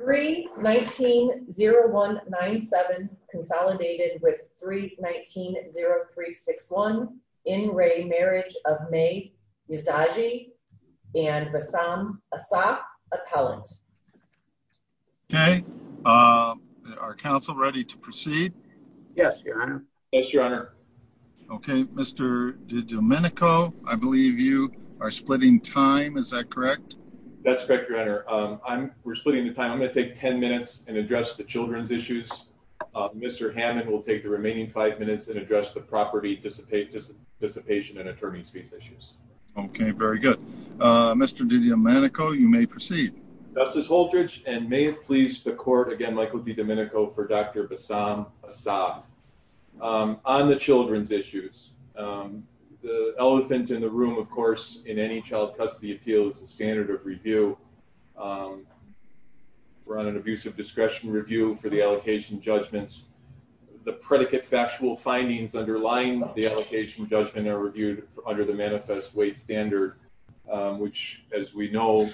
3-19-0197 Consolidated with 3-19-0361 In re Marriage of May Yazeji and Rassam Asaq, Appellant. Okay. Are Council ready to proceed? Yes, Your Honor. Yes, Your Honor. Okay. Mr. DiDomenico, I believe you are splitting time. Is that correct? That's correct, Your Honor. We're splitting the time. I'm going to take 10 minutes and address the children's issues. Mr. Hammond will take the remaining 5 minutes and address the property dissipation and attorney's fees issues. Okay. Very good. Mr. DiDomenico, you may proceed. Justice Holtridge, and may it please the Court, again, Michael DiDomenico for Dr. Rassam Asaq, on the children's issues. The elephant in the room, of course, in any child custody appeal is the standard of review. We're on an abuse of discretion review for the allocation judgments. The predicate factual findings underlying the allocation judgment are reviewed under the manifest weight standard, which, as we know,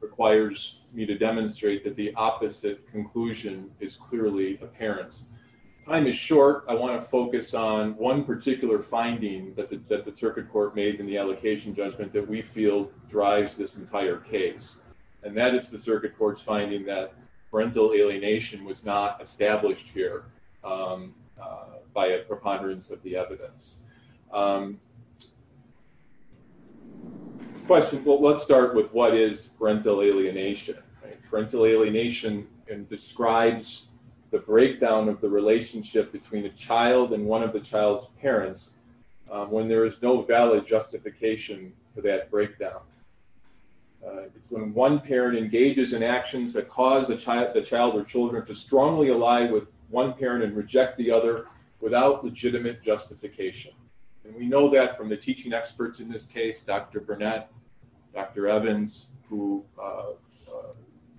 requires me to demonstrate that the opposite conclusion is clearly apparent. Time is short. I want to focus on one particular finding that the Circuit Court made in the allocation judgment that we feel drives this entire case. And that is the Circuit Court's finding that parental alienation was not established here by a preponderance of the evidence. Let's start with what is parental alienation. Parental alienation describes the breakdown of the relationship between a child and one of the child's parents when there is no valid justification for that breakdown. It's when one parent engages in actions that cause the child or children to strongly ally with one parent and reject the other without legitimate justification. And we know that from the teaching experts in this case, Dr. Burnett, Dr. Evans, who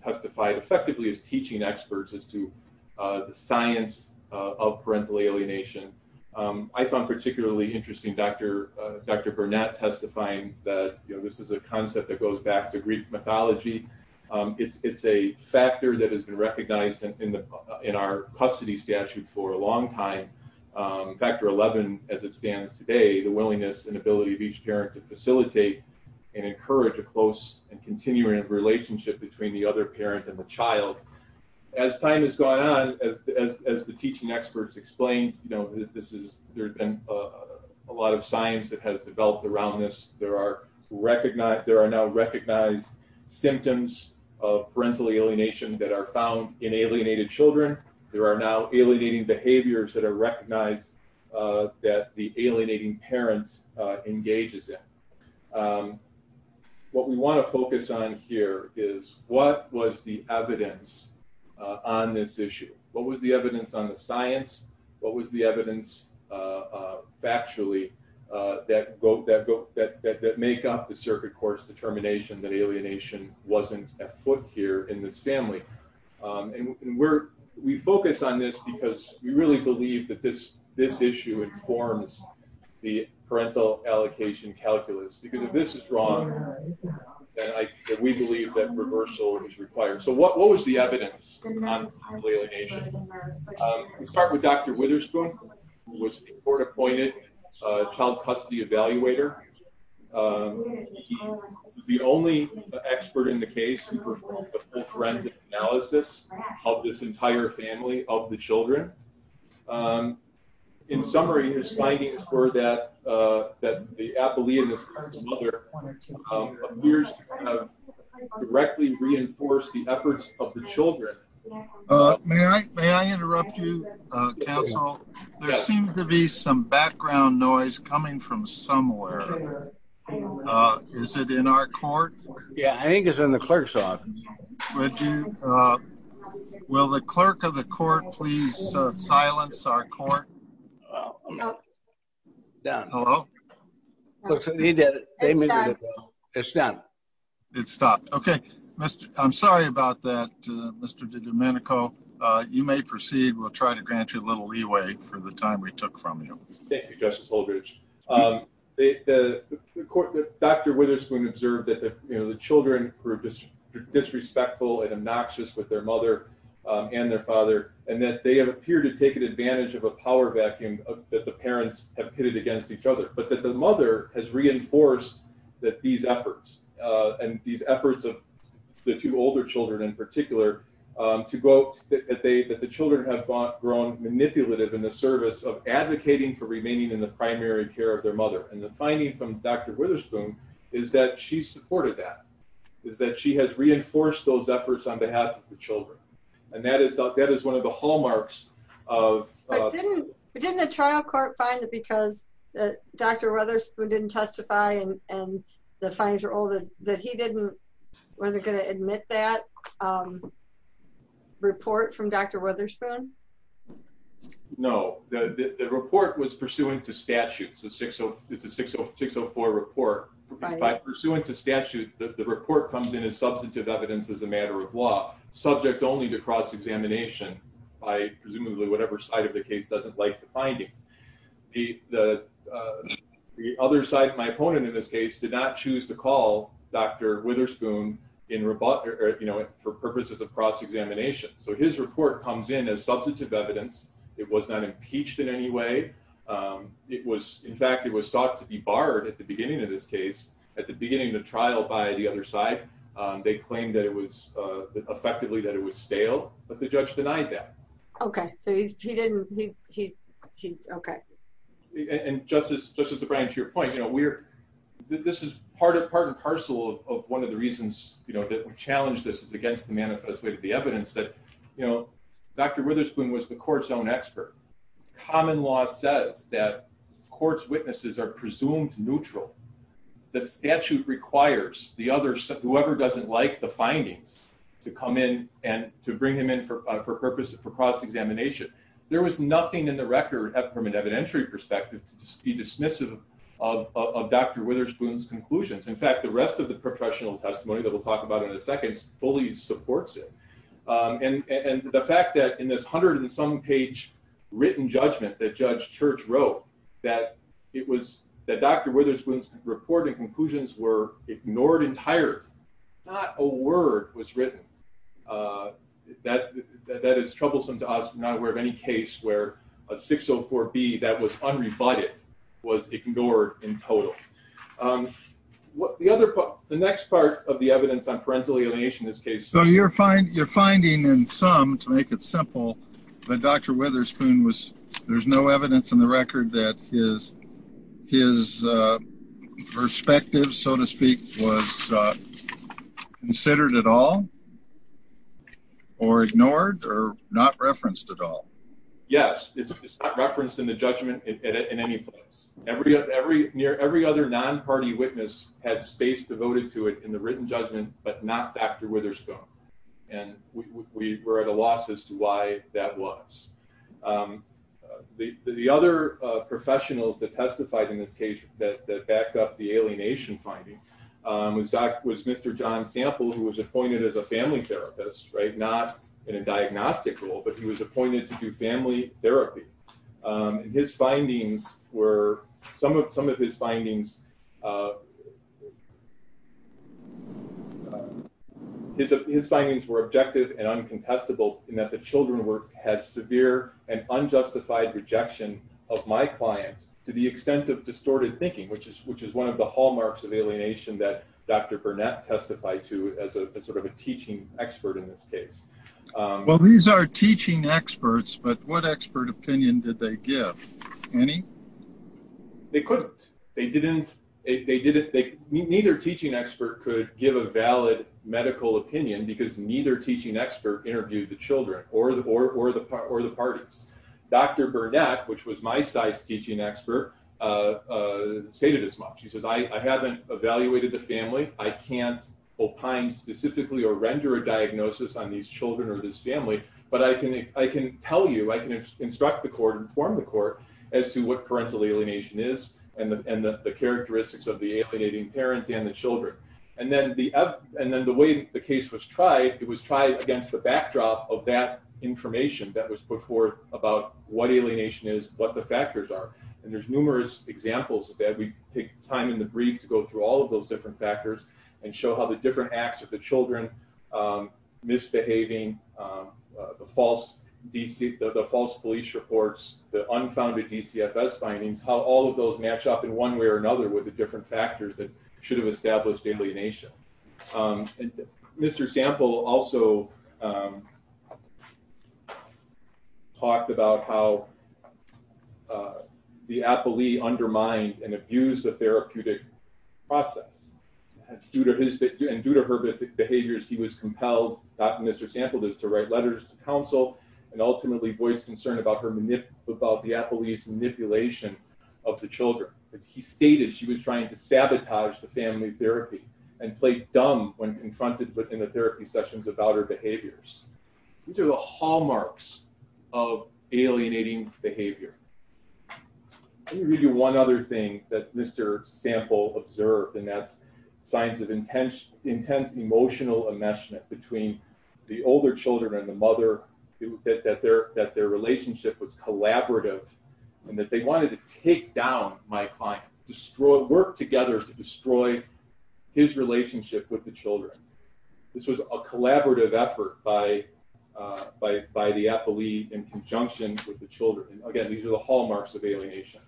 testified effectively as teaching experts as to the science of parental alienation. I found particularly interesting Dr. Burnett testifying that this is a concept that goes back to Greek mythology. It's a factor that has been recognized in our custody statute for a long time. Factor 11, as it stands today, the willingness and ability of each parent to facilitate and encourage a close and continuing relationship between the other parent and the child. As time has gone on, as the teaching experts explained, there's been a lot of science that has developed around this. There are now recognized symptoms of parental alienation that are found in alienated children. There are now alienating behaviors that are recognized that the alienating parent engages in. What we want to focus on here is what was the evidence on this issue? What was the evidence on the science? What was the evidence factually that make up the circuit court's determination that alienation wasn't afoot here in this family? We focus on this because we really believe that this issue informs the parental allocation calculus. Because if this is wrong, then we believe that reversal is required. What was the evidence on alienation? We start with Dr. Witherspoon, who was the court-appointed child custody evaluator. He was the only expert in the case who performed a full forensic analysis of this entire family of the children. In summary, his findings were that the appellee and his current mother appears to have directly reinforced the efforts of the children. May I interrupt you, counsel? There seems to be some background noise coming from somewhere. Is it in our court? Yeah, I think it's in the clerk's office. Will the clerk of the court please silence our court? Done. Hello? He did it. It's done. It stopped. I'm sorry about that, Mr. DiDomenico. You may proceed. We'll try to grant you a little leeway for the time we took from you. Thank you, Justice Holdredge. Dr. Witherspoon observed that the children were disrespectful and obnoxious with their mother and their father, and that they appear to have taken advantage of a power vacuum that the parents have pitted against each other. But that the mother has reinforced that these efforts, and these efforts of the two older children in particular, to go that the children have grown manipulative in the service of advocating for remaining in the primary care of their mother. And the finding from Dr. Witherspoon is that she supported that, is that she has reinforced those efforts on behalf of the children. And that is one of the hallmarks of… But didn't the trial court find that because Dr. Witherspoon didn't testify and the findings are old, that he didn't… Were they going to admit that report from Dr. Witherspoon? No. The report was pursuant to statute. It's a 604 report. Pursuant to statute, the report comes in as substantive evidence as a matter of law, subject only to cross-examination by presumably whatever side of the case doesn't like the findings. The other side, my opponent in this case, did not choose to call Dr. Witherspoon for purposes of cross-examination. So his report comes in as substantive evidence. It was not impeached in any way. In fact, it was sought to be barred at the beginning of this case, at the beginning of the trial by the other side. They claimed that it was… Effectively, that it was stale, but the judge denied that. Okay. So he didn't… He's… Okay. And Justice O'Brien, to your point, you know, we're… This is part and parcel of one of the reasons, you know, that we challenge this is against the manifest way to the evidence that, you know, Dr. Witherspoon was the court's own expert. Common law says that court's witnesses are presumed neutral. The statute requires the other, whoever doesn't like the findings, to come in and to bring him in for purpose of cross-examination. There was nothing in the record, from an evidentiary perspective, to be dismissive of Dr. Witherspoon's conclusions. In fact, the rest of the professional testimony that we'll talk about in a second fully supports it. And the fact that in this hundred-and-some-page written judgment that Judge Church wrote, that it was… That Dr. Witherspoon's report and conclusions were ignored entirely. Not a word was written. That is troublesome to us. We're not aware of any case where a 604B that was unrebutted was ignored in total. The next part of the evidence on parental alienation in this case… So, you're finding in some, to make it simple, that Dr. Witherspoon was… There's no evidence in the record that his perspective, so to speak, was considered at all? Or ignored? Or not referenced at all? Yes, it's not referenced in the judgment in any place. Every other non-party witness had space devoted to it in the written judgment, but not Dr. Witherspoon. And we were at a loss as to why that was. The other professionals that testified in this case that backed up the alienation finding was Mr. John Sample, who was appointed as a family therapist. Not in a diagnostic role, but he was appointed to do family therapy. And his findings were… His findings were objective and uncontestable in that the children had severe and unjustified rejection of my client to the extent of distorted thinking, which is one of the hallmarks of alienation that Dr. Burnett testified to as sort of a teaching expert in this case. Well, these are teaching experts, but what expert opinion did they give? Any? They couldn't. Neither teaching expert could give a valid medical opinion because neither teaching expert interviewed the children or the parties. Dr. Burnett, which was my side's teaching expert, stated as much. She says, I haven't evaluated the family. I can't opine specifically or render a diagnosis on these children or this family. But I can tell you, I can instruct the court, inform the court as to what parental alienation is and the characteristics of the alienating parent and the children. And then the way the case was tried, it was tried against the backdrop of that information that was put forth about what alienation is, what the factors are. And there's numerous examples of that. We take time in the brief to go through all of those different factors and show how the different acts of the children misbehaving, the false police reports, the unfounded DCFS findings, how all of those match up in one way or another with the different factors that should have established alienation. Mr. Sample also talked about how the appellee undermined and abused the therapeutic process. Due to her behaviors, he was compelled, Dr. Sample does, to write letters to counsel and ultimately voiced concern about the appellee's manipulation of the children. He stated she was trying to sabotage the family therapy and played dumb when confronted within the therapy sessions about her behaviors. These are the hallmarks of alienating behavior. Let me read you one other thing that Mr. Sample observed, and that's signs of intense emotional enmeshment between the older children and the mother, that their relationship was collaborative and that they wanted to take down my client, work together to destroy his relationship with the children. This was a collaborative effort by the appellee in conjunction with the children. Again, these are the hallmarks of alienation.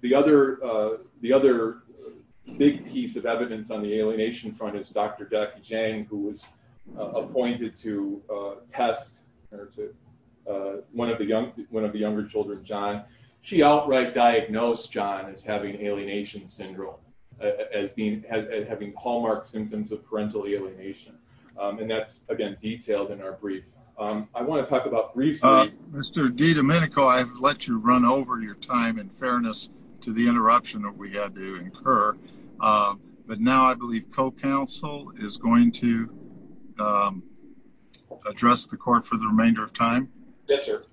The other big piece of evidence on the alienation front is Dr. Jackie Chang, who was appointed to test one of the younger children, John. She outright diagnosed John as having alienation syndrome, as having hallmark symptoms of parental alienation. And that's again detailed in our brief. I want to talk about briefly... Mr. DiDomenico, I've let you run over your time in fairness to the interruption that we had to incur. But now I believe co-counsel is going to address the court for the remainder of time. Yes, sir.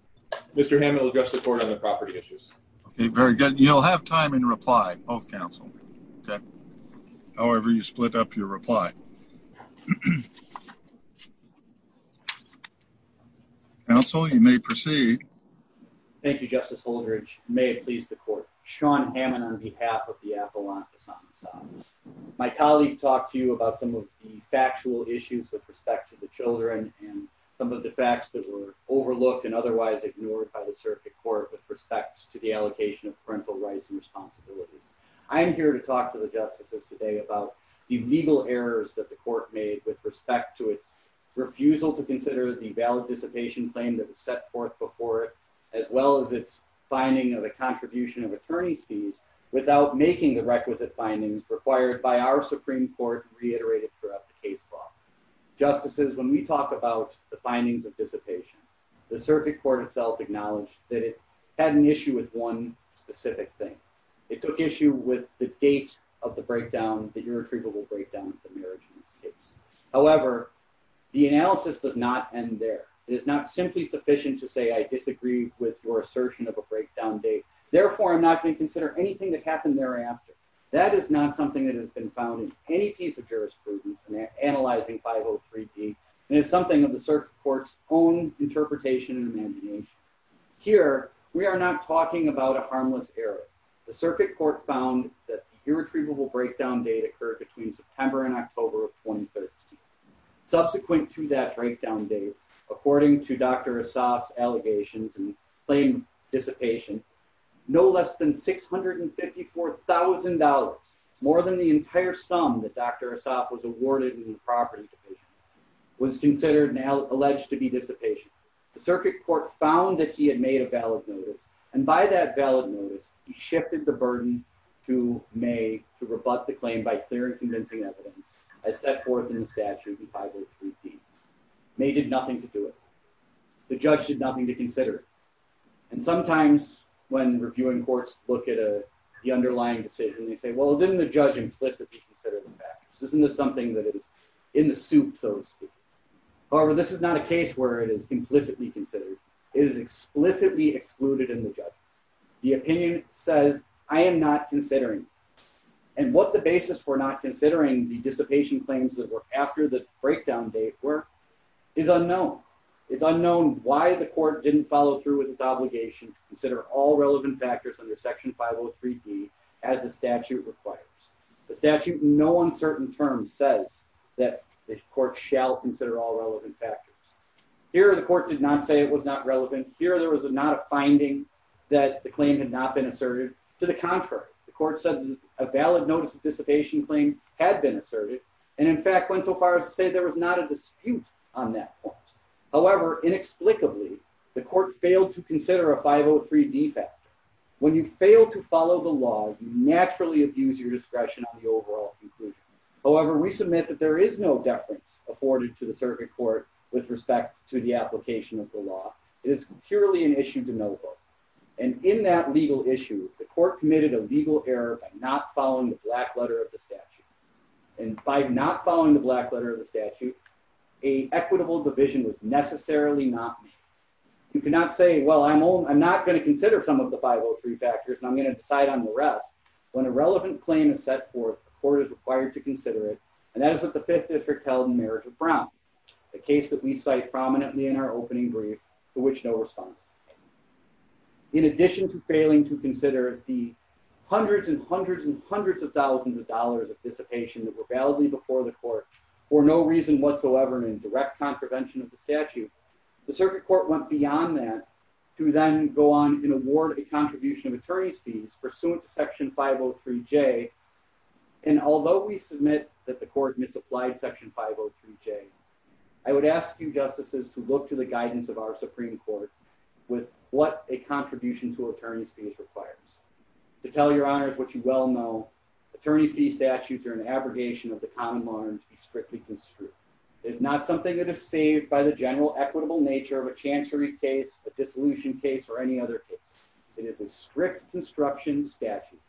Mr. Hammond will address the court on the property issues. Okay, very good. You'll have time in reply, both counsel. Okay. However you split up your reply. Counsel, you may proceed. Thank you, Justice Holdredge. May it please the court. Sean Hammond on behalf of the Appalachians. My colleague talked to you about some of the factual issues with respect to the children and some of the facts that were overlooked and otherwise ignored by the circuit court with respect to the allocation of parental rights and responsibilities. I'm here to talk to the justices today about the legal errors that the court made with respect to its refusal to consider the valid dissipation claim that was set forth before it, as well as its finding of a contribution of attorney's fees without making the requisite findings required by our Supreme Court reiterated throughout the case law. Justices, when we talk about the findings of dissipation, the circuit court itself acknowledged that it had an issue with one specific thing. It took issue with the date of the breakdown, the irretrievable breakdown of the marriage in this case. However, the analysis does not end there. It is not simply sufficient to say I disagree with your assertion of a breakdown date. Therefore, I'm not going to consider anything that happened thereafter. That is not something that has been found in any piece of jurisprudence in analyzing 503D, and it's something of the circuit court's own interpretation and imagination. Here, we are not talking about a harmless error. The circuit court found that the irretrievable breakdown date occurred between September and October of 2013. Subsequent to that breakdown date, according to Dr. Assaf's allegations and claim dissipation, no less than $654,000, more than the entire sum that Dr. Assaf was awarded in the property division, was considered and alleged to be dissipation. The circuit court found that he had made a valid notice, and by that valid notice, he shifted the burden to May to rebut the claim by clear and convincing evidence as set forth in the statute in 503D. May did nothing to do it. The judge did nothing to consider it. And sometimes when reviewing courts look at the underlying decision, they say, well, didn't the judge implicitly consider the factors? Isn't this something that is in the soup, so to speak? However, this is not a case where it is implicitly considered. It is explicitly excluded in the judge. The opinion says, I am not considering, and what the basis for not considering the dissipation claims that were after the breakdown date were is unknown. It's unknown why the court didn't follow through with its obligation to consider all relevant factors under Section 503D as the statute requires. The statute in no uncertain terms says that the court shall consider all relevant factors. Here, the court did not say it was not relevant. Here, there was not a finding that the claim had not been asserted. To the contrary, the court said a valid notice of dissipation claim had been asserted, and in fact, went so far as to say there was not a dispute on that point. However, inexplicably, the court failed to consider a 503D factor. When you fail to follow the law, you naturally abuse your discretion on the overall conclusion. However, we submit that there is no deference afforded to the circuit court with respect to the application of the law. It is purely an issue to know about. And in that legal issue, the court committed a legal error by not following the black letter of the statute. And by not following the black letter of the statute, an equitable division was necessarily not made. You cannot say, well, I'm not going to consider some of the 503 factors, and I'm going to decide on the rest. When a relevant claim is set forth, the court is required to consider it, and that is what the Fifth District held in marriage of Brown, a case that we cite prominently in our opening brief, to which no response. In addition to failing to consider the hundreds and hundreds and hundreds of thousands of dollars of dissipation that were validly before the court, for no reason whatsoever in direct contravention of the statute, the circuit court went beyond that to then go on and award a contribution of attorney's fees pursuant to Section 503J. And although we submit that the court misapplied Section 503J, I would ask you justices to look to the guidance of our Supreme Court with what a contribution to attorney's fees requires. To tell your honors what you well know, attorney's fee statutes are an abrogation of the common law and strictly construed. It is not something that is saved by the general equitable nature of a chancery case, a dissolution case, or any other case. It is a strict construction statute.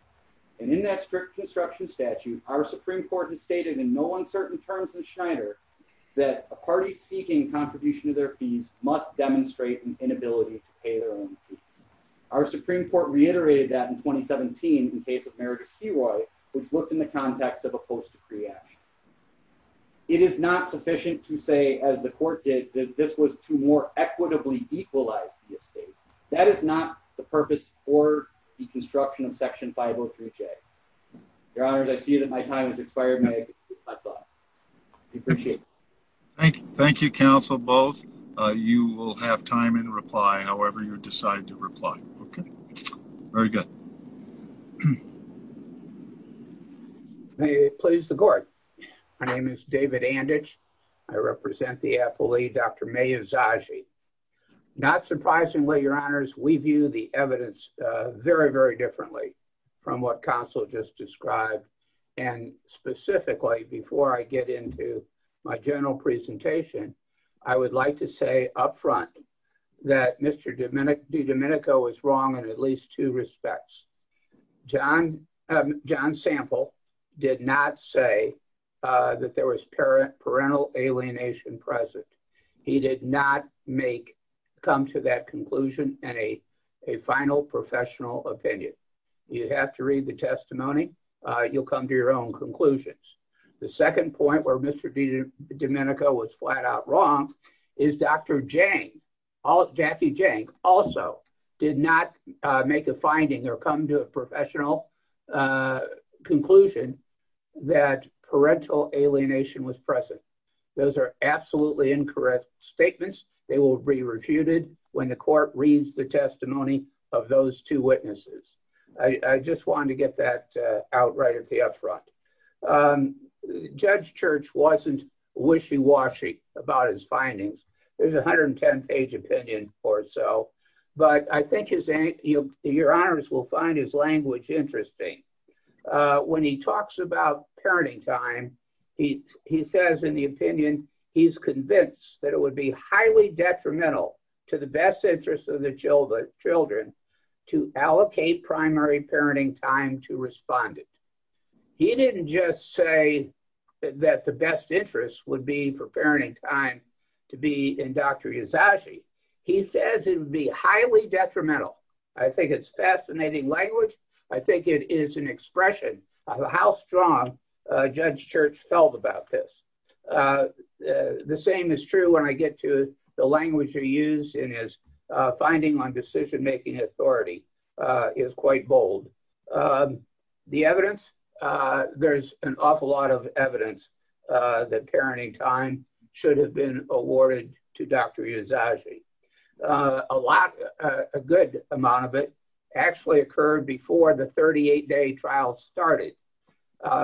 And in that strict construction statute, our Supreme Court has stated in no uncertain terms in Schneider that a party seeking contribution to their fees must demonstrate an inability to pay their own fees. Our Supreme Court reiterated that in 2017 in the case of Meredith Heroy, which looked in the context of a post-decree action. It is not sufficient to say, as the court did, that this was to more equitably equalize the estate. That is not the purpose for the construction of Section 503J. Your honors, I see that my time has expired. My thought. I appreciate it. Thank you. Thank you, counsel, both. You will have time in reply, however you decide to reply. Okay. Very good. May it please the court. My name is David Anditch. I represent the affilee, Dr. Maya Zaghi. Not surprisingly, your honors, we view the evidence very, very differently from what counsel just described. Specifically, before I get into my general presentation, I would like to say up front that Mr. DiDomenico is wrong in at least two respects. John Sample did not say that there was parental alienation present. He did not come to that conclusion in a final professional opinion. You have to read the testimony. You'll come to your own conclusions. The second point where Mr. DiDomenico was flat out wrong is Dr. Jang, Jackie Jang, also did not make a finding or come to a professional conclusion that parental alienation was present. Those are absolutely incorrect statements. They will be refuted when the court reads the testimony of those two witnesses. I just wanted to get that out right at the up front. Judge Church wasn't wishy-washy about his findings. There's a 110-page opinion or so. But I think your honors will find his language interesting. When he talks about parenting time, he says in the opinion he's convinced that it would be highly detrimental to the best interest of the children to allocate primary parenting time to respondent. He didn't just say that the best interest would be for parenting time to be in Dr. Yazagi. He says it would be highly detrimental. I think it's fascinating language. I think it is an expression of how strong Judge Church felt about this. The same is true when I get to the language he used in his finding on decision-making authority is quite bold. The evidence, there's an awful lot of evidence that parenting time should have been awarded to Dr. Yazagi. A good amount of it actually occurred before the 38-day trial started.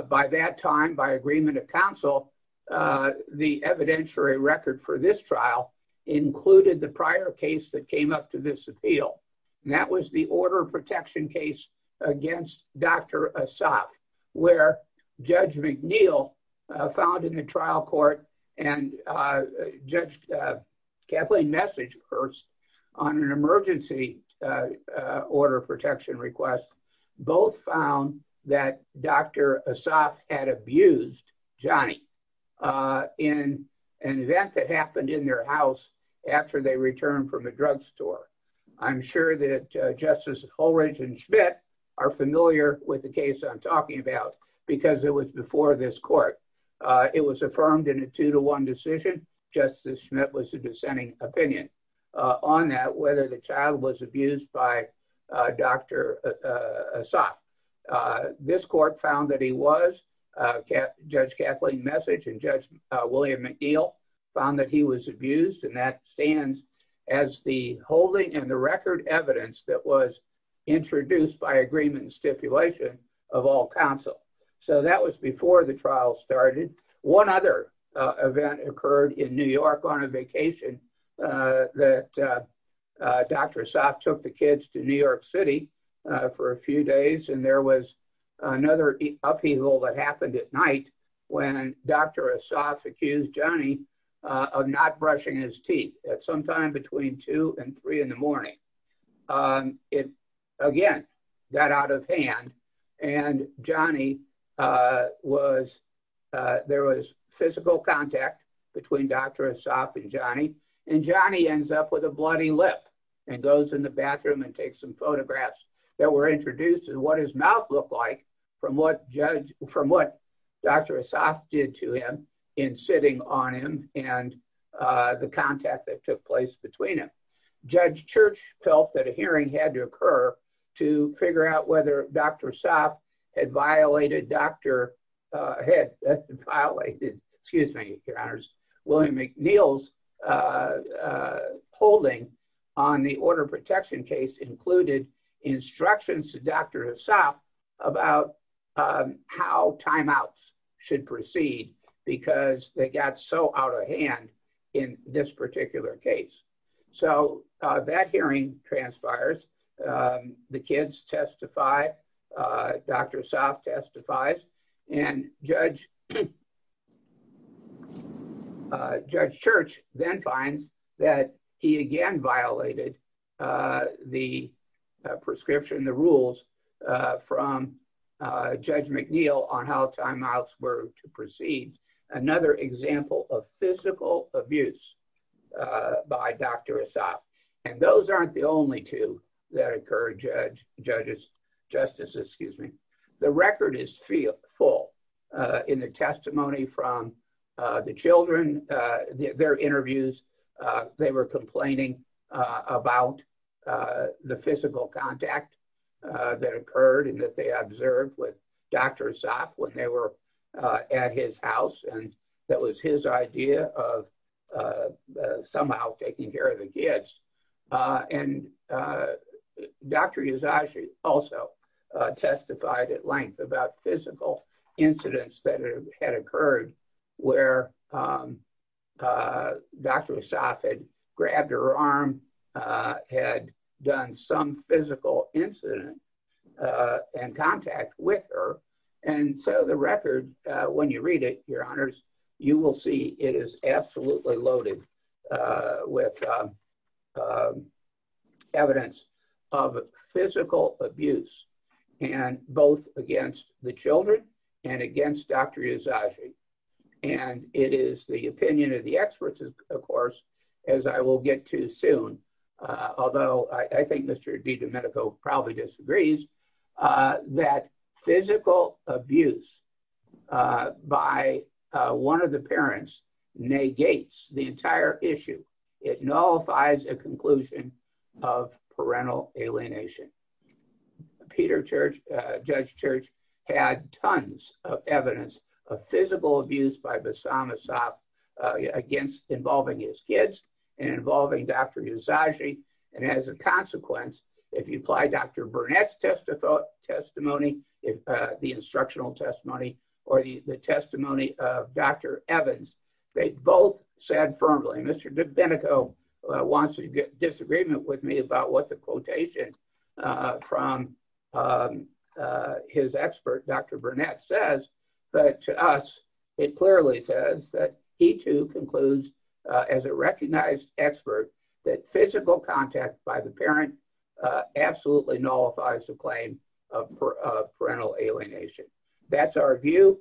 By that time, by agreement of counsel, the evidentiary record for this trial included the prior case that came up to this appeal. That was the order of protection case against Dr. Assaf, where Judge McNeil found in the trial court and Judge Kathleen Message, of course, on an emergency order of protection request, both found that Dr. Assaf had abused Johnny in an event that happened in their house after they returned from the drugstore. I'm sure that Justice Holridge and Schmidt are familiar with the case I'm talking about because it was before this court. It was affirmed in a two-to-one decision. Justice Schmidt was a dissenting opinion on that, whether the child was abused by Dr. Assaf. This court found that he was. Judge Kathleen Message and Judge William McNeil found that he was abused. That stands as the holding and the record evidence that was introduced by agreement and stipulation of all counsel. That was before the trial started. One other event occurred in New York on a vacation that Dr. Assaf took the kids to New York City for a few days. And there was another upheaval that happened at night when Dr. Assaf accused Johnny of not brushing his teeth at sometime between 2 and 3 in the morning. It, again, got out of hand. And Johnny was, there was physical contact between Dr. Assaf and Johnny. And Johnny ends up with a bloody lip and goes in the bathroom and takes some photographs that were introduced and what his mouth looked like from what Judge, from what Dr. Assaf did to him in sitting on him and the contact that took place between them. Judge Church felt that a hearing had to occur to figure out whether Dr. Assaf had violated Dr., had violated, excuse me, Your Honors, William McNeil's holding on the order protection case included instructions to Dr. Assaf about how timeouts should proceed because they got so out of hand in this particular case. So that hearing transpires. The kids testify. Dr. Assaf testifies. And Judge Church then finds that he, again, violated the prescription, the rules from Judge McNeil on how timeouts were to proceed. Another example of physical abuse by Dr. Assaf. And those aren't the only two that occurred, Judge, Judge's, Justice, excuse me. The record is full in the testimony from the children, their interviews, they were complaining about the physical contact that occurred and that they observed with Dr. Assaf when they were at his house. And that was his idea of somehow taking care of the kids. And Dr. Usagi also testified at length about physical incidents that had occurred where Dr. Assaf had grabbed her arm, had done some physical incident and contact with her. And so the record, when you read it, Your Honors, you will see it is absolutely loaded with evidence of physical abuse and both against the children and against Dr. Usagi. And it is the opinion of the experts, of course, as I will get to soon, although I think Mr. DiDomenico probably disagrees, that physical abuse by one of the parents negates the entire issue. It nullifies a conclusion of parental alienation. Peter Church, Judge Church, had tons of evidence of physical abuse by Bassam Assaf against involving his kids and involving Dr. Usagi. And as a consequence, if you apply Dr. Burnett's testimony, the instructional testimony, or the testimony of Dr. Evans, they both said firmly. Mr. DiDomenico wants to get disagreement with me about what the quotation from his expert, Dr. Burnett, says. But to us, it clearly says that he too concludes, as a recognized expert, that physical contact by the parent absolutely nullifies the claim of parental alienation. That's our view.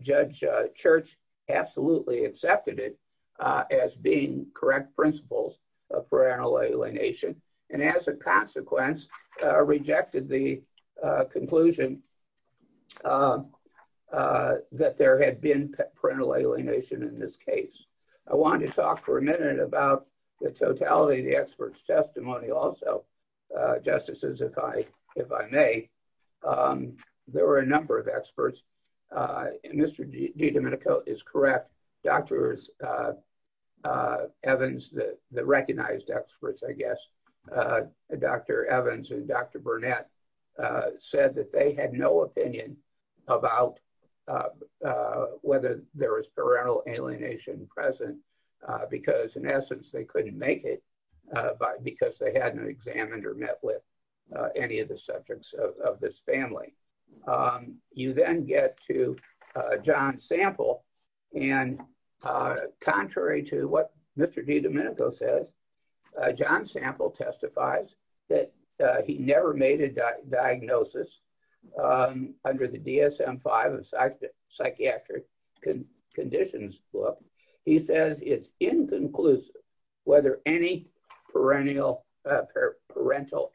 Judge Church absolutely accepted it as being correct principles of parental alienation. And as a consequence, rejected the conclusion that there had been parental alienation in this case. I want to talk for a minute about the totality of the expert's testimony also, Justices, if I may. There were a number of experts. Mr. DiDomenico is correct. Dr. Evans, the recognized experts, I guess, Dr. Evans and Dr. Burnett said that they had no opinion about whether there was parental alienation present. Because, in essence, they couldn't make it because they hadn't examined or met with any of the subjects of this family. You then get to John Sample, and contrary to what Mr. DiDomenico says, John Sample testifies that he never made a diagnosis under the DSM-5 of psychiatric conditions book. He says it's inconclusive whether any parental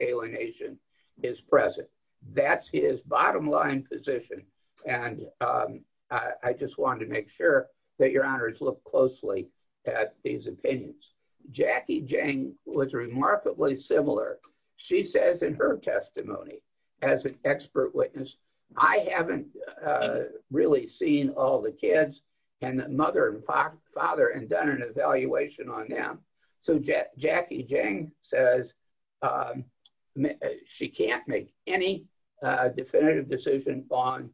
alienation is present. That's his bottom line position. And I just wanted to make sure that your honors look closely at these opinions. Jackie Jang was remarkably similar. She says in her testimony, as an expert witness, I haven't really seen all the kids and the mother and father and done an evaluation on them. So Jackie Jang says she can't make any definitive decision on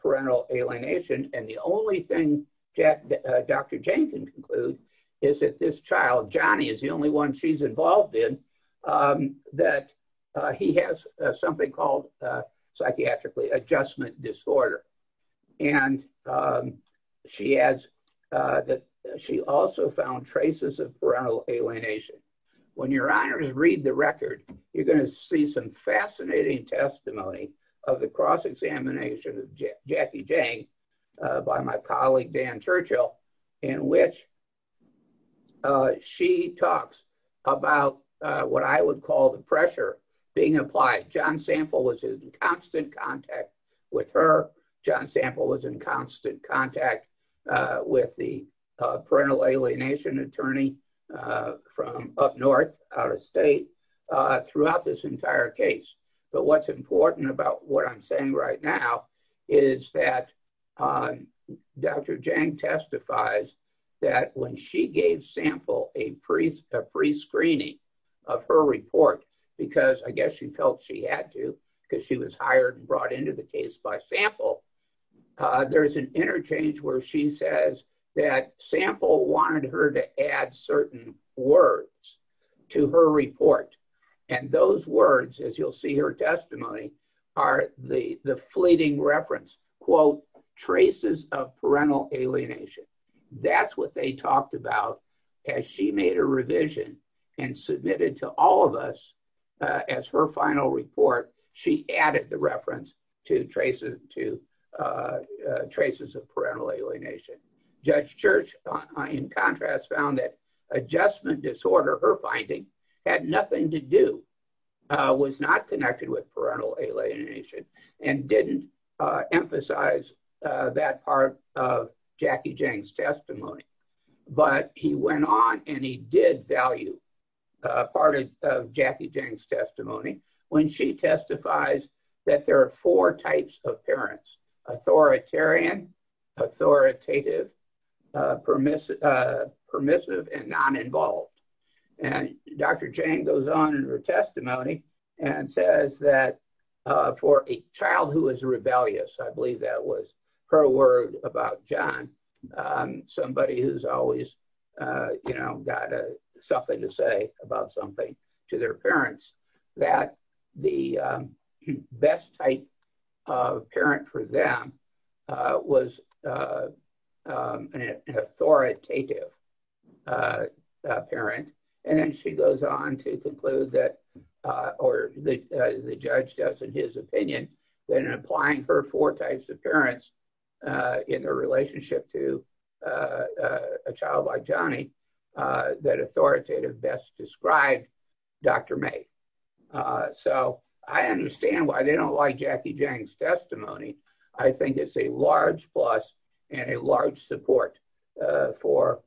parental alienation. And the only thing Dr. Jang can conclude is that this child, Johnny, is the only one she's involved in, that he has something called, psychiatrically, adjustment disorder. And she adds that she also found traces of parental alienation. When your honors read the record, you're going to see some fascinating testimony of the cross-examination of Jackie Jang by my colleague, Dan Churchill, in which she talks about what I would call the pressure being applied. John Sample was in constant contact with her. John Sample was in constant contact with the parental alienation attorney from up north, out of state, throughout this entire case. But what's important about what I'm saying right now is that Dr. Jang testifies that when she gave Sample a prescreening of her report, because I guess she felt she had to, because she was hired and brought into the case by Sample, there's an interchange where she says that Sample wanted her to add certain words to her report. And those words, as you'll see her testimony, are the fleeting reference, quote, traces of parental alienation. That's what they talked about. As she made a revision and submitted to all of us as her final report, she added the reference to traces of parental alienation. Judge Church, in contrast, found that adjustment disorder, her finding, had nothing to do, was not connected with parental alienation, and didn't emphasize that part of Jackie Jang's testimony. But he went on and he did value part of Jackie Jang's testimony when she testifies that there are four types of parents, authoritarian, authoritative, permissive, and non-involved. And Dr. Jang goes on in her testimony and says that for a child who is rebellious, I believe that was her word about John, somebody who's always got something to say about something to their parents, that the best type of parent for them was an authoritative parent. And then she goes on to conclude that, or the judge does in his opinion, that in applying her four types of parents in their relationship to a child like Johnny, that authoritative best described Dr. May. So I understand why they don't like Jackie Jang's testimony. I think it's a large plus and a large support for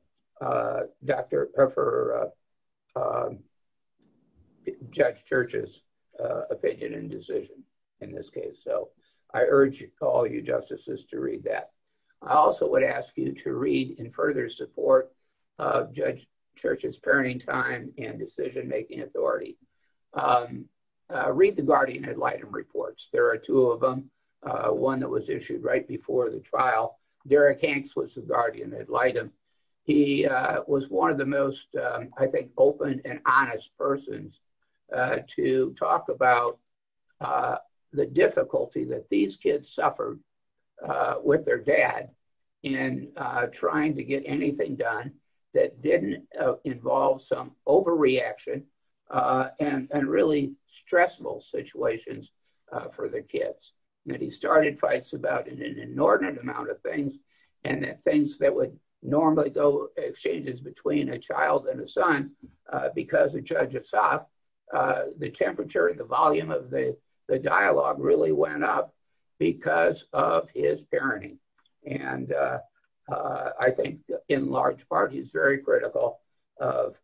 Judge Church's opinion and decision in this case. So I urge all you justices to read that. I also would ask you to read, in further support of Judge Church's parenting time and decision-making authority, read the guardian ad litem reports. There are two of them, one that was issued right before the trial. Derek Hanks was the guardian ad litem. He was one of the most, I think, open and honest persons to talk about the difficulty that these kids suffered with their dad in trying to get anything done that didn't involve some overreaction and really stressful situations for their kids. And he started fights about an inordinate amount of things, and things that would normally go, exchanges between a child and a son, because of Judge Assaf, the temperature and the volume of the dialogue really went up because of his parenting. And I think, in large part, he's very critical of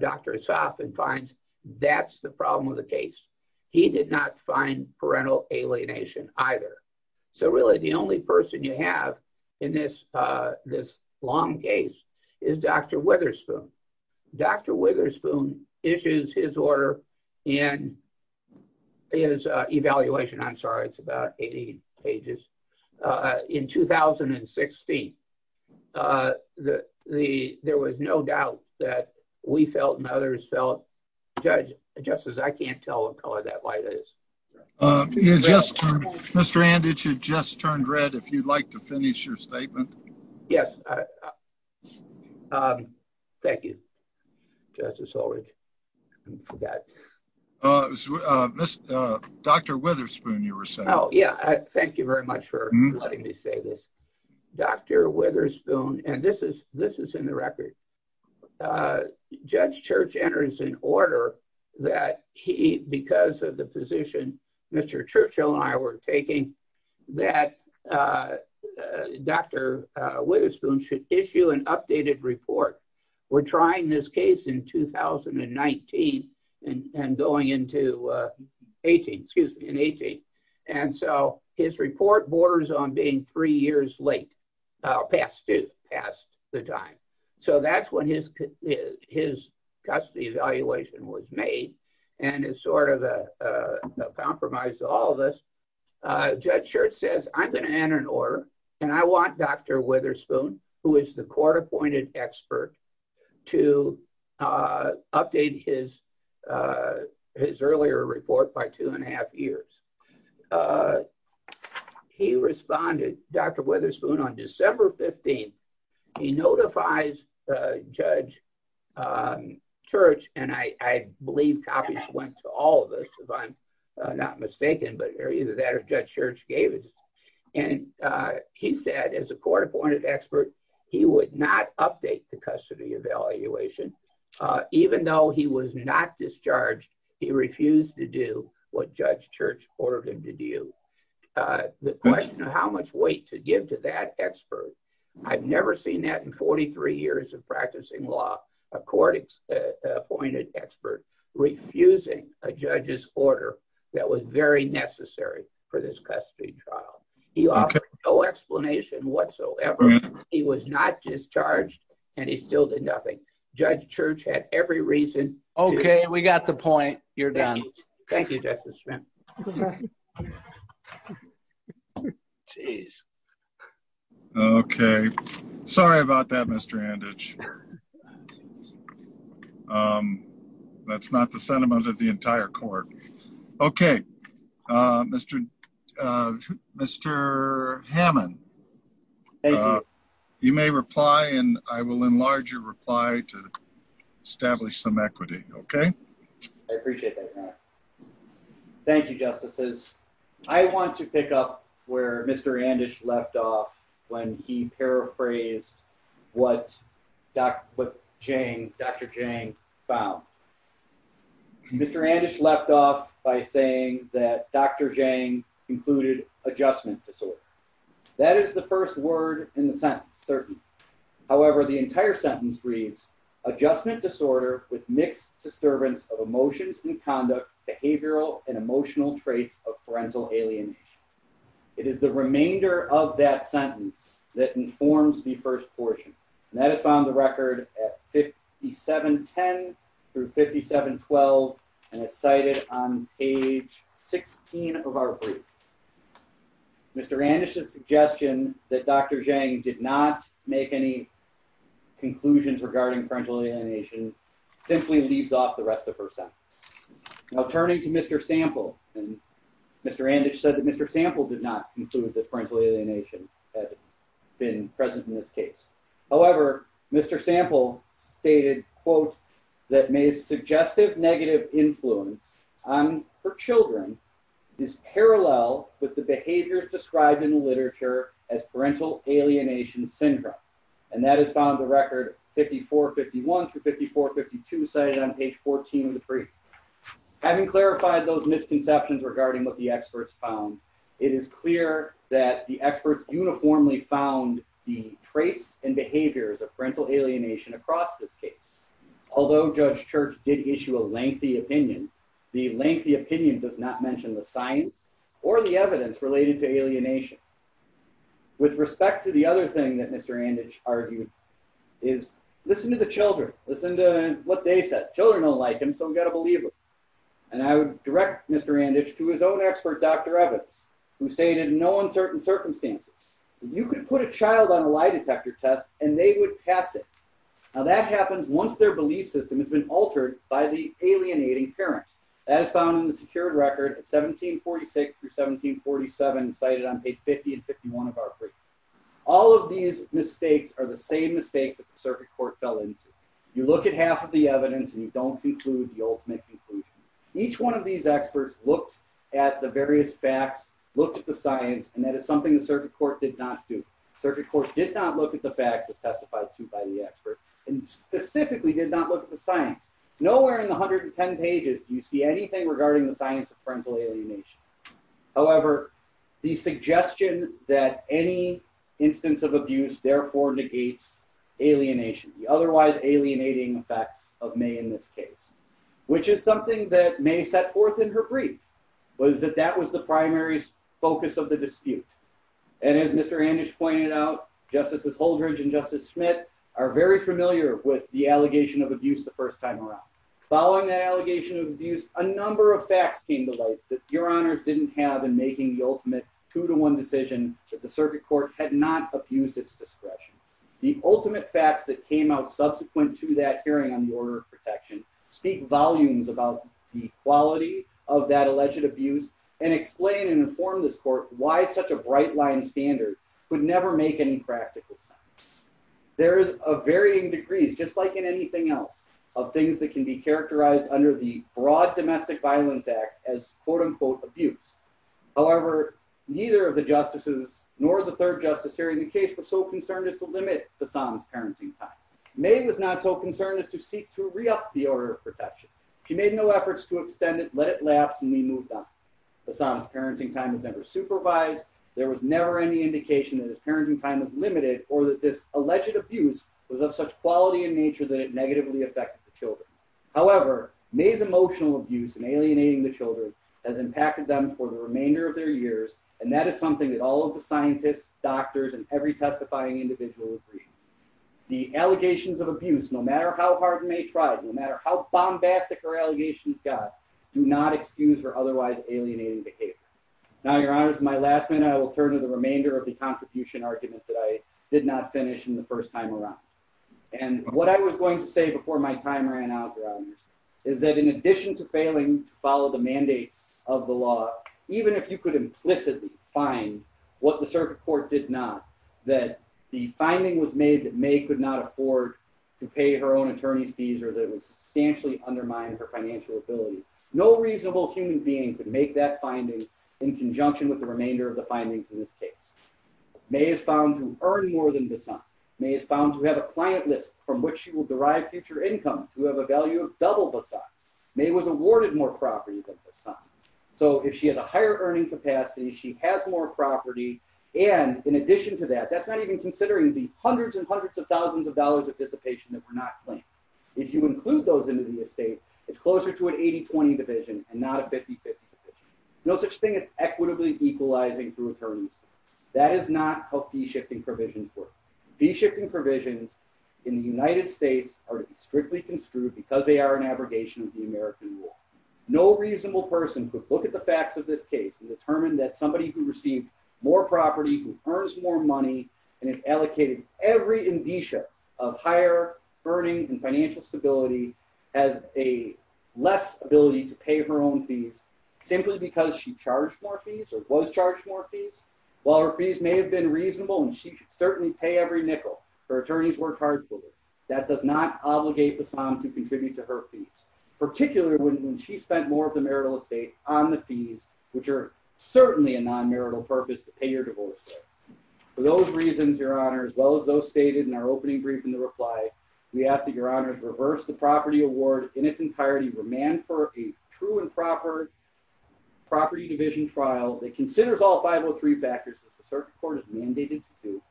Dr. Assaf and finds that's the problem with the case. He did not find parental alienation either. So really, the only person you have in this long case is Dr. Witherspoon. Dr. Witherspoon issues his order in his evaluation, I'm sorry, it's about 80 pages, in 2016. There was no doubt that we felt and others felt, Judge, just as I can't tell what color that light is. Mr. Anditch, you just turned red. If you'd like to finish your statement. Yes. Thank you, Justice Ullrich. Dr. Witherspoon, you were saying. Dr. Witherspoon should issue an updated report. We're trying this case in 2019 and going into 18, excuse me, in 18. And so his report borders on being three years late, past due, past the time. So that's when his custody evaluation was made. And it's sort of a compromise to all of us. Judge Schertz says, I'm going to enter an order. And I want Dr. Witherspoon, who is the court appointed expert, to update his earlier report by two and a half years. He responded, Dr. Witherspoon, on December 15, he notifies Judge Church, and I believe copies went to all of us, if I'm not mistaken, but either that or Judge Church gave it. And he said, as a court appointed expert, he would not update the custody evaluation, even though he was not discharged, he refused to do what Judge Church ordered him to do. The question of how much weight to give to that expert, I've never seen that in 43 years of practicing law, a court appointed expert refusing a judge's order that was very necessary for this custody trial. He offered no explanation whatsoever. He was not discharged, and he still did nothing. Judge Church had every reason. Okay, we got the point. You're done. Thank you, Justice Schmidt. Geez. Okay, sorry about that, Mr. Anditch. That's not the sentiment of the entire court. Okay, Mr. Mr. Hammond. You may reply and I will enlarge your reply to establish some equity. Okay. I appreciate that. Thank you, Justices. I want to pick up where Mr. Anditch left off when he paraphrased what Dr. Jang found. Mr. Anditch left off by saying that Dr. Jang included adjustment disorder. That is the first word in the sentence. However, the entire sentence reads adjustment disorder with mixed disturbance of emotions and conduct behavioral and emotional traits of parental alienation. It is the remainder of that sentence that informs the first portion that has found the record at 57 10 through 57 12 and is cited on page 16 of our brief. Mr. And it's a suggestion that Dr. Jang did not make any conclusions regarding parental alienation simply leaves off the rest of her son. Now, turning to Mr. Sample and Mr. And it said that Mr. Sample did not include the parental alienation been present in this case. However, Mr. Sample stated, quote, that may suggestive negative influence on her children is parallel with the behaviors described in the literature as parental alienation syndrome. And that is found the record 54 51 through 54 52 cited on page 14 of the brief. Having clarified those misconceptions regarding what the experts found, it is clear that the experts uniformly found the traits and behaviors of parental alienation across this case. Although Judge Church did issue a lengthy opinion, the lengthy opinion does not mention the science or the evidence related to alienation. With respect to the other thing that Mr. And it's argued is listen to the children, listen to what they said. Children don't like him, so we've got a believer. And I would direct Mr. And it's to his own expert, Dr. Evans, who stated no uncertain circumstances. You can put a child on a lie detector test and they would pass it. Now that happens once their belief system has been altered by the alienating parent as found in the secured record at 1746 through 1747 cited on page 50 and 51 of our brief. All of these mistakes are the same mistakes that the circuit court fell into. You look at half of the evidence and you don't conclude the ultimate conclusion. Each one of these experts looked at the various facts, looked at the science, and that is something the circuit court did not do. And specifically did not look at the science. Nowhere in the 110 pages do you see anything regarding the science of parental alienation. However, the suggestion that any instance of abuse therefore negates alienation, the otherwise alienating effects of May in this case, which is something that May set forth in her brief, was that that was the primary focus of the dispute. And as Mr. Anders pointed out, Justices Holdridge and Justice Smith are very familiar with the allegation of abuse the first time around. Following that allegation of abuse, a number of facts came to light that your honors didn't have in making the ultimate two to one decision that the circuit court had not abused its discretion. The ultimate facts that came out subsequent to that hearing on the order of protection speak volumes about the quality of that alleged abuse and explain and inform this court why such a bright line standard would never make any practical sense. There is a varying degrees, just like in anything else, of things that can be characterized under the broad domestic violence act as quote unquote abuse. However, neither of the justices nor the third justice hearing the case were so concerned as to limit Bassam's parenting time. May was not so concerned as to seek to re-up the order of protection. She made no efforts to extend it, let it lapse, and we moved on. Bassam's parenting time was never supervised. There was never any indication that his parenting time was limited or that this alleged abuse was of such quality in nature that it negatively affected the children. However, May's emotional abuse and alienating the children has impacted them for the remainder of their years, and that is something that all of the scientists, doctors, and every testifying individual agree. The allegations of abuse, no matter how hard May tried, no matter how bombastic her allegations got, do not excuse her otherwise alienating behavior. Now, your honors, my last minute, I will turn to the remainder of the contribution argument that I did not finish in the first time around. And what I was going to say before my time ran out, your honors, is that in addition to failing to follow the mandates of the law, even if you could implicitly find what the circuit court did not, that the finding was made that May could not afford to pay her own attorney's fees or that it substantially undermined her financial ability, no reasonable human being could make that finding in conjunction with the remainder of the findings in this case. May is found to earn more than Bassan. May is found to have a client list from which she will derive future income to have a value of double Bassan's. May was awarded more property than Bassan. So if she has a higher earning capacity, she has more property, and in addition to that, that's not even considering the hundreds and hundreds of thousands of dollars of dissipation that were not claimed. If you include those into the estate, it's closer to an 80-20 division and not a 50-50 division. No such thing as equitably equalizing through attorneys. That is not how fee shifting provisions work. Fee shifting provisions in the United States are strictly construed because they are an abrogation of the American rule. No reasonable person could look at the facts of this case and determine that somebody who received more property, who earns more money, and is allocated every indicia of higher earning and financial stability has a less ability to pay her own fees simply because she charged more fees or was charged more fees. While her fees may have been reasonable and she could certainly pay every nickel, her attorneys worked hard for her. That does not obligate Bassan to contribute to her fees, particularly when she spent more of the marital estate on the fees, which are certainly a non-marital purpose to pay your divorce. For those reasons, Your Honor, as well as those stated in our opening brief in the reply, we ask that Your Honor reverse the property award in its entirety, remand for a true and proper property division trial that considers all 503 factors that the circuit court has mandated to do,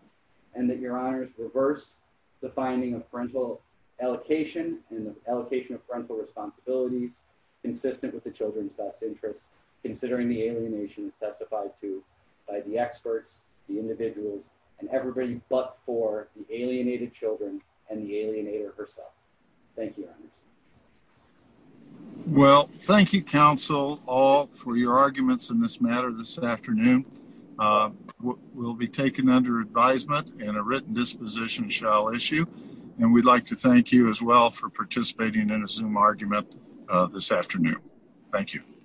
and that Your Honor reverse the finding of parental allocation and the allocation of parental responsibilities consistent with the children's best interests, considering the alienation is testified to by the experts, the individuals, and everybody but for the alienated children and the alienator herself. Thank you, Your Honor. Well, thank you, counsel, all for your arguments in this matter this afternoon. We'll be taken under advisement and a written disposition shall issue. And we'd like to thank you as well for participating in a Zoom argument this afternoon. Thank you.